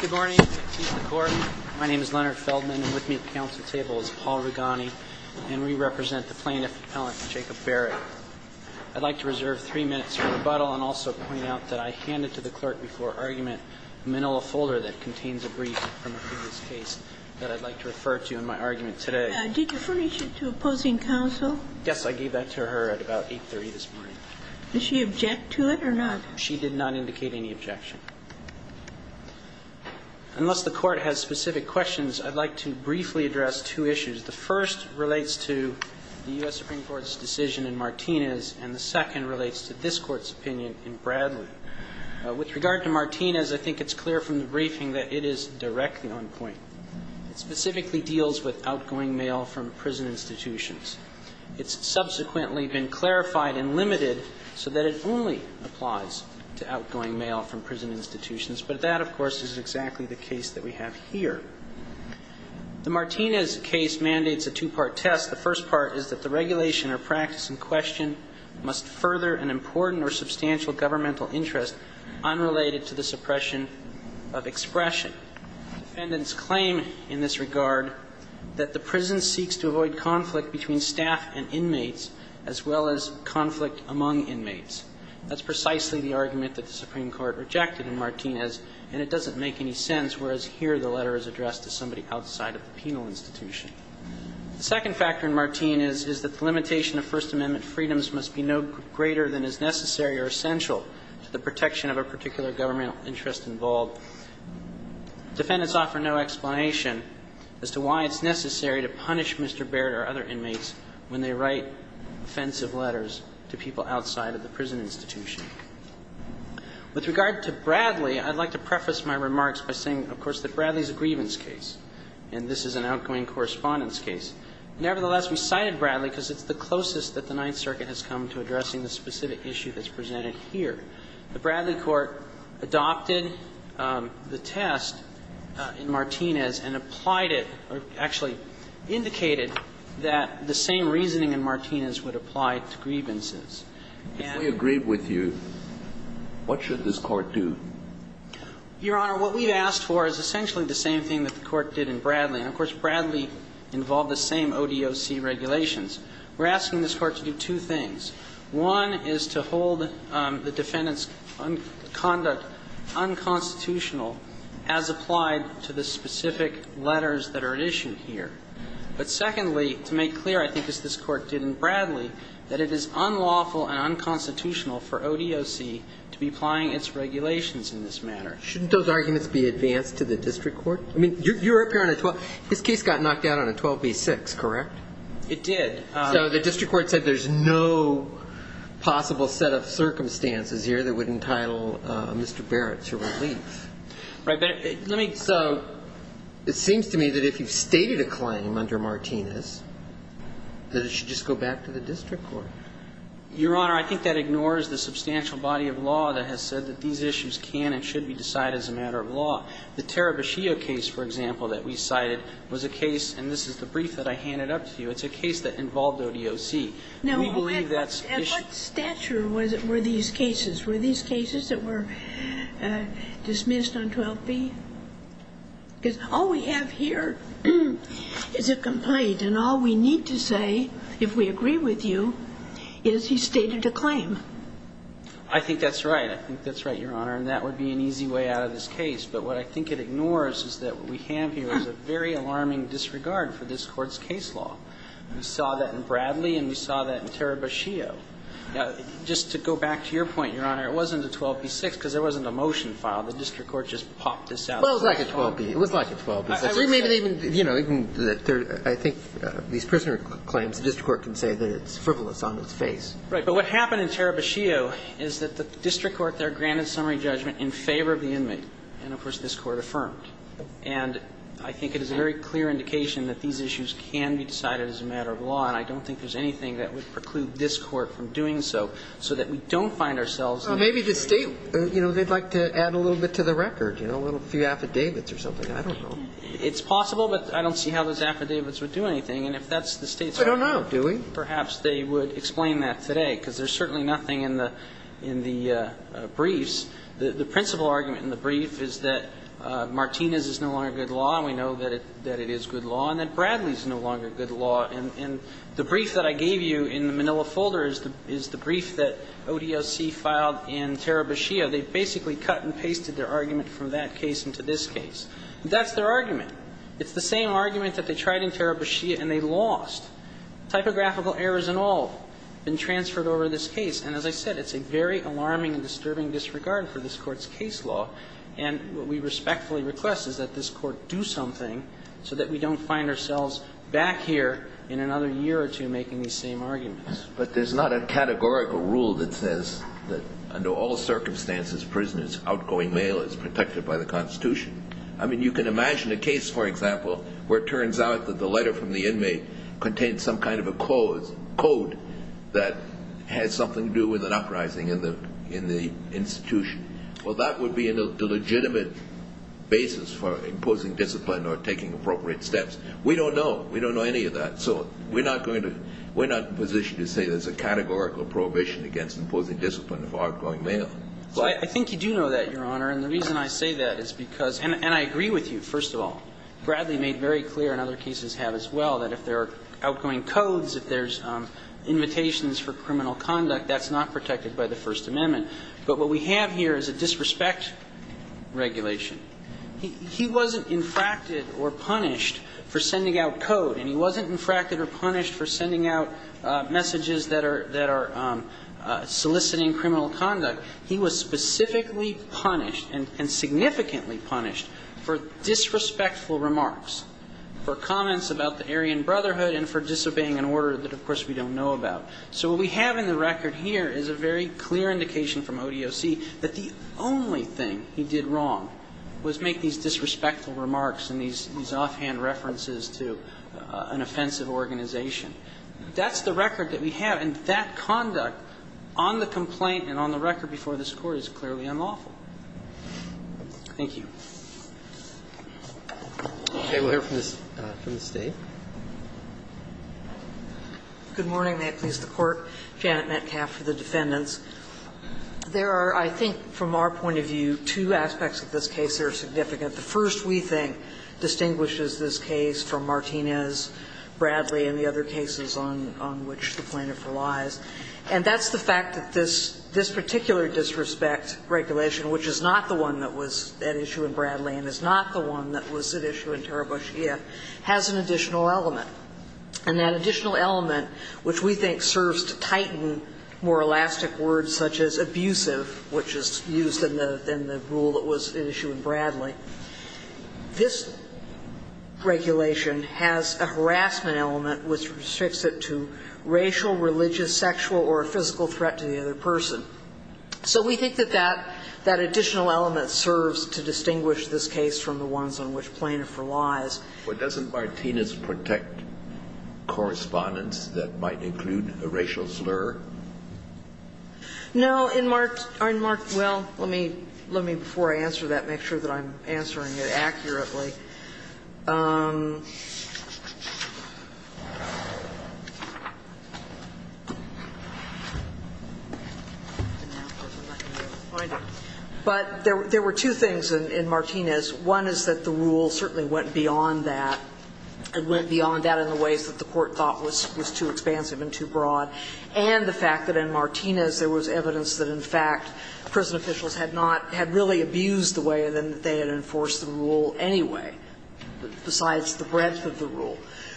Good morning. My name is Leonard Feldman, and with me at the Council table is Paul Rigani, and we represent the plaintiff, Appellant Jacob Barrett. I'd like to reserve three minutes for rebuttal and also point out that I handed to the Clerk before argument a manila folder that contains a brief from a previous case that I'd like to refer to in my argument today. Did you furnish it to opposing counsel? Yes, I gave that to her at about 8.30 this morning. Did she object to it or not? She did not indicate any objection. Unless the Court has specific questions, I'd like to briefly address two issues. The first relates to the U.S. Supreme Court's decision in Martinez, and the second relates to this Court's opinion in Bradley. With regard to Martinez, I think it's clear from the briefing that it is directly on point. It specifically deals with outgoing mail from prison institutions. It's subsequently been clarified and limited so that it only applies to outgoing mail from prison institutions. But that, of course, is exactly the case that we have here. The Martinez case mandates a two-part test. The first part is that the regulation or practice in question must further an important or substantial governmental interest unrelated to the suppression of expression. Defendants claim in this regard that the prison seeks to avoid conflict between staff and inmates as well as conflict among inmates. That's precisely the argument that the Supreme Court rejected in Martinez, and it doesn't make any sense, whereas here the letter is addressed to somebody outside of the penal institution. The second factor in Martinez is that the limitation of First Amendment freedoms must be no greater than is necessary or essential to the protection of a particular governmental interest involved. Defendants offer no explanation as to why it's necessary to punish Mr. Baird or other inmates when they write offensive letters to people outside of the prison institution. With regard to Bradley, I'd like to preface my remarks by saying, of course, that Bradley is a grievance case, and this is an outgoing correspondence case. Nevertheless, we cited Bradley because it's the closest that the Ninth Circuit has come to addressing the specific issue that's presented here. The Bradley court adopted the test in Martinez and applied it or actually indicated that the same reasoning in Martinez would apply to grievances. And we agree with you. What should this court do? Your Honor, what we've asked for is essentially the same thing that the court did in Bradley. And, of course, Bradley involved the same ODOC regulations. We're asking this Court to do two things. One is to hold the defendant's conduct unconstitutional as applied to the specific letters that are at issue here. But secondly, to make clear, I think as this Court did in Bradley, that it is unlawful and unconstitutional for ODOC to be applying its regulations in this matter. Shouldn't those arguments be advanced to the district court? I mean, you're up here on a 12. This case got knocked down on a 12b-6, correct? It did. So the district court said there's no possible set of circumstances here that would entitle Mr. Barrett to relief. Right. But let me... So it seems to me that if you've stated a claim under Martinez, that it should just go back to the district court. Your Honor, I think that ignores the substantial body of law that has said that these issues can and should be decided as a matter of law. The Tarabashio case, for example, that we cited was a case, and this is the brief that I handed up to you, it's a case that involved ODOC. We believe that's... Now, at what stature were these cases? Were these cases that were dismissed on 12b? Because all we have here is a complaint, and all we need to say, if we agree with you, is he stated a claim. I think that's right. I think that's right, Your Honor. And that would be an easy way out of this case. But what I think it ignores is that what we have here is a very alarming disregard for this Court's case law. We saw that in Bradley, and we saw that in Tarabashio. Now, just to go back to your point, Your Honor, it wasn't a 12b-6 because there wasn't a motion filed. The district court just popped this out. Well, it was like a 12b. It was like a 12b. I think these prisoner claims, the district court can say that it's frivolous on its face. Right. But what happened in Tarabashio is that the district court there granted summary judgment in favor of the inmate. And, of course, this Court affirmed. And I think it is a very clear indication that these issues can be decided as a matter of law, and I don't think there's anything that would preclude this Court from doing so, so that we don't find ourselves... Well, maybe the State, you know, they'd like to add a little bit to the record, you know, a few affidavits or something. I don't know. It's possible, but I don't see how those affidavits would do anything. And if that's the State's... I don't know. Perhaps they would explain that today, because there's certainly nothing in the briefs. The principal argument in the brief is that Martinez is no longer good law, and we know that it is good law, and that Bradley is no longer good law. And the brief that I gave you in the Manila folder is the brief that ODLC filed in Tarabashio. They basically cut and pasted their argument from that case into this case. That's their argument. It's the same argument that they tried in Tarabashio and they lost. Typographical errors and all have been transferred over this case. And as I said, it's a very alarming and disturbing disregard for this Court's case law. And what we respectfully request is that this Court do something so that we don't find ourselves back here in another year or two making these same arguments. But there's not a categorical rule that says that under all circumstances, prisoners, outgoing mail is protected by the Constitution. I mean, you can imagine a case, for example, where it turns out that the letter from the inmate contains some kind of a code that has something to do with an uprising in the institution. Well, that would be a legitimate basis for imposing discipline or taking appropriate steps. We don't know. We don't know any of that. So we're not going to – we're not in a position to say there's a categorical prohibition against imposing discipline of outgoing mail. Well, I think you do know that, Your Honor. And the reason I say that is because – and I agree with you, first of all. Bradley made very clear, and other cases have as well, that if there are outgoing codes, if there's invitations for criminal conduct, that's not protected by the First Amendment. But what we have here is a disrespect regulation. He wasn't infracted or punished for sending out code. And he wasn't infracted or punished for sending out messages that are – that are soliciting criminal conduct. He was specifically punished and significantly punished for disrespectful remarks, for comments about the Aryan Brotherhood and for disobeying an order that, of course, we don't know about. So what we have in the record here is a very clear indication from ODOC that the only thing he did wrong was make these disrespectful remarks and these offhand references to an offensive organization. That's the record that we have. And that conduct on the complaint and on the record before this Court is clearly unlawful. Thank you. Roberts. Okay. We'll hear from the State. Good morning. May it please the Court. Janet Metcalf for the defendants. There are, I think, from our point of view, two aspects of this case that are significant. The first, we think, distinguishes this case from Martinez, Bradley, and the other cases on which the plaintiff relies, and that's the fact that this – this particular disrespect regulation, which is not the one that was at issue in Bradley and is not the one that was at issue in Taraboshia, has an additional element. And that additional element, which we think serves to tighten more elastic words such as abusive, which is used in the – in the rule that was at issue in Bradley, this regulation has a harassment element which restricts it to racial, religious, sexual, or a physical threat to the other person. So we think that that – that additional element serves to distinguish this case from the ones on which plaintiff relies. But doesn't Martinez protect correspondence that might include a racial slur? No. Well, in – well, let me, before I answer that, make sure that I'm answering it accurately. But there were two things in Martinez. One is that the rule certainly went beyond that. It went beyond that in the ways that the Court thought was too expansive and too broad. And the fact that in Martinez there was evidence that, in fact, prison officials had not – had really abused the way in which they had enforced the rule anyway, besides the breadth of the rule.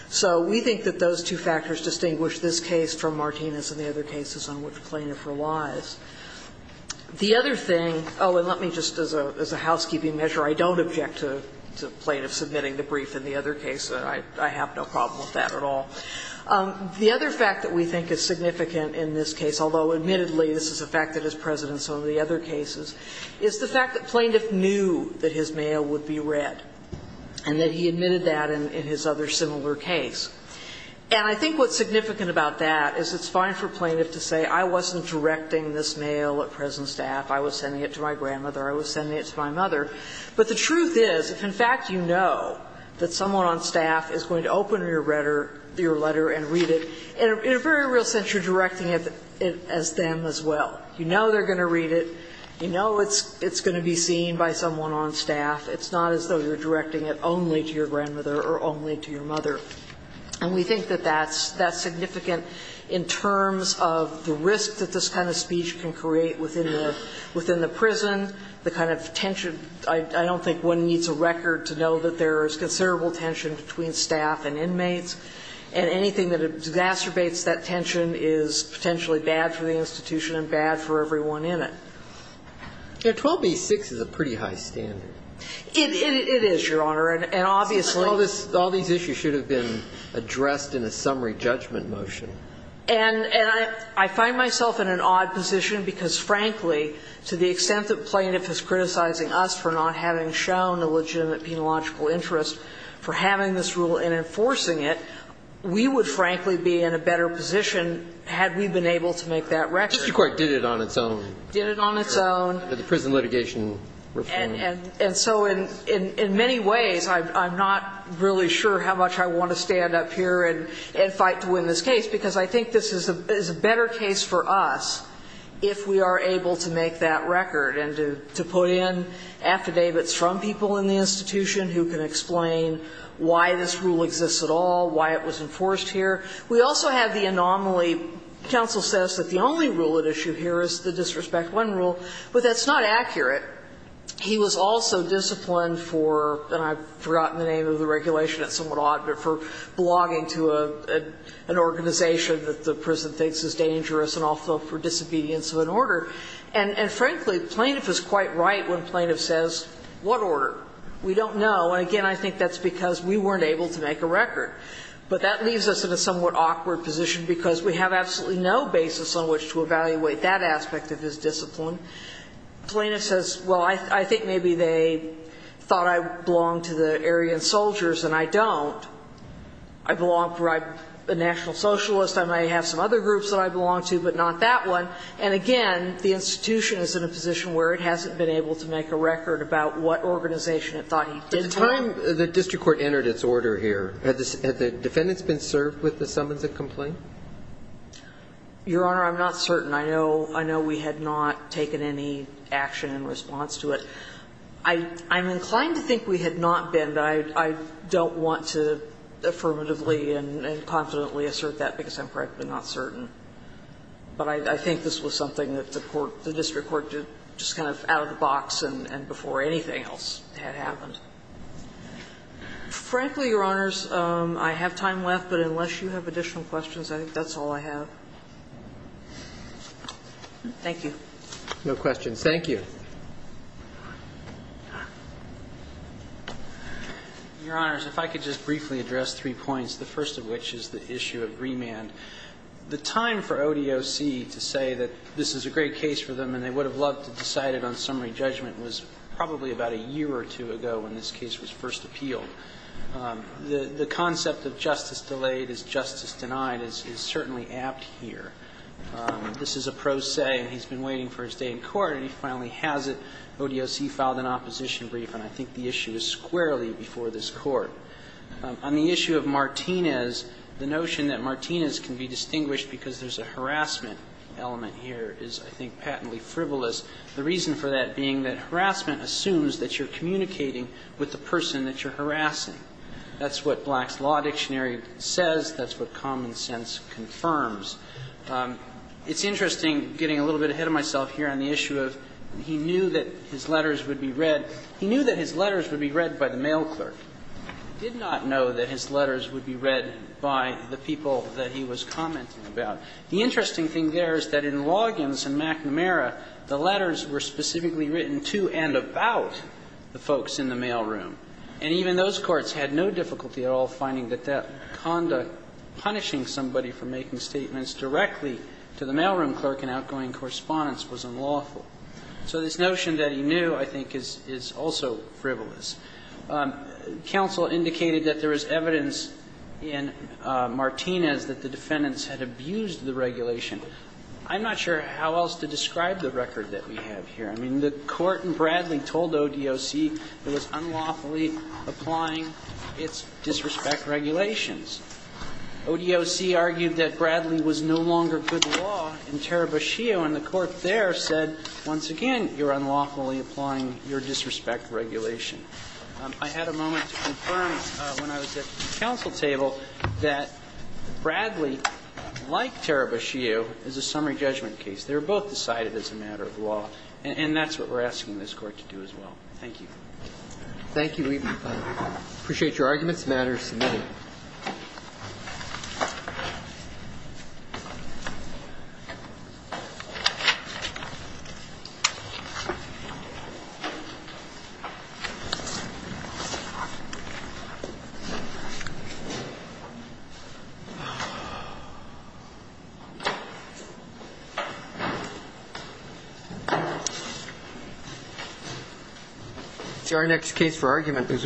So we think that those two factors distinguish this case from Martinez and the other cases on which plaintiff relies. The other thing – oh, and let me just, as a housekeeping measure, I don't object to plaintiffs submitting the brief in the other case. I have no problem with that at all. The other fact that we think is significant in this case, although admittedly this is a fact that is present in some of the other cases, is the fact that plaintiff knew that his mail would be read and that he admitted that in his other similar case. And I think what's significant about that is it's fine for plaintiff to say I wasn't directing this mail at prison staff. I was sending it to my grandmother. I was sending it to my mother. But the truth is, if in fact you know that someone on staff is going to open your letter and read it, in a very real sense you're directing it as them as well. You know they're going to read it. You know it's going to be seen by someone on staff. It's not as though you're directing it only to your grandmother or only to your mother. And we think that that's significant in terms of the risk that this kind of speech can create within the prison, the kind of tension. I don't think one needs a record to know that there is considerable tension between staff and inmates, and anything that exacerbates that tension is potentially bad for the institution and bad for everyone in it. 12b-6 is a pretty high standard. It is, Your Honor. And obviously All these issues should have been addressed in a summary judgment motion. And I find myself in an odd position because, frankly, to the extent that the plaintiff is criticizing us for not having shown a legitimate penological interest for having this rule and enforcing it, we would frankly be in a better position had we been able to make that record. Mr. Court did it on its own. Did it on its own. The prison litigation reform. And so in many ways I'm not really sure how much I want to stand up here and fight to win this case, because I think this is a better case for us if we are able to make that record and to put in affidavits from people in the institution who can explain why this rule exists at all, why it was enforced here. We also have the anomaly. Counsel says that the only rule at issue here is the Disrespect I rule, but that's not accurate. He was also disciplined for, and I've forgotten the name of the regulation, it's somewhat odd, but for blogging to an organization that the prison thinks is dangerous and also for disobedience of an order. And frankly, the plaintiff is quite right when plaintiff says, what order? We don't know. And again, I think that's because we weren't able to make a record. But that leaves us in a somewhat awkward position because we have absolutely no basis on which to evaluate that aspect of his discipline. Plaintiff says, well, I think maybe they thought I belonged to the Aryan soldiers and I don't. I belong to a national socialist. I may have some other groups that I belong to, but not that one. And again, the institution is in a position where it hasn't been able to make a record about what organization it thought he did belong to. But the time the district court entered its order here, have the defendants been served with the summons and complaint? Your Honor, I'm not certain. I know we had not taken any action in response to it. I'm inclined to think we had not been, but I don't want to affirmatively and confidently assert that because I'm practically not certain. But I think this was something that the court, the district court did just kind of out of the box and before anything else had happened. Frankly, Your Honors, I have time left. But unless you have additional questions, I think that's all I have. Thank you. No questions. Thank you. Your Honors, if I could just briefly address three points, the first of which is the issue of remand. The time for ODOC to say that this is a great case for them and they would have loved to decide it on summary judgment was probably about a year or two ago when this case was first appealed. The concept of justice delayed is justice denied is certainly apt here. This is a pro se, and he's been waiting for his day in court, and he finally has it. ODOC filed an opposition brief, and I think the issue is squarely before this court. On the issue of Martinez, the notion that Martinez can be distinguished because there's a harassment element here is, I think, patently frivolous. The reason for that being that harassment assumes that you're communicating with the person that you're harassing. That's what Black's Law Dictionary says. That's what common sense confirms. It's interesting, getting a little bit ahead of myself here on the issue of he knew that his letters would be read. He knew that his letters would be read by the mail clerk. He did not know that his letters would be read by the people that he was commenting about. The interesting thing there is that in Loggins and McNamara, the letters were specifically written to and about the folks in the mailroom. And even those courts had no difficulty at all finding that that conduct, punishing somebody for making statements directly to the mailroom clerk in outgoing correspondence, was unlawful. So this notion that he knew, I think, is also frivolous. Counsel indicated that there is evidence in Martinez that the defendants had abused the regulation. I'm not sure how else to describe the record that we have here. I mean, the Court in Bradley told ODOC it was unlawfully applying its disrespect regulations. ODOC argued that Bradley was no longer good law in Tarabashio, and the Court there said, once again, you're unlawfully applying your disrespect regulation. I had a moment to confirm when I was at the counsel table that Bradley, like Tarabashio, is a summary judgment case. They were both decided as a matter of law. And that's what we're asking this Court to do as well. Thank you. Thank you. I appreciate your arguments. The matter is submitted. It's our next case for argument.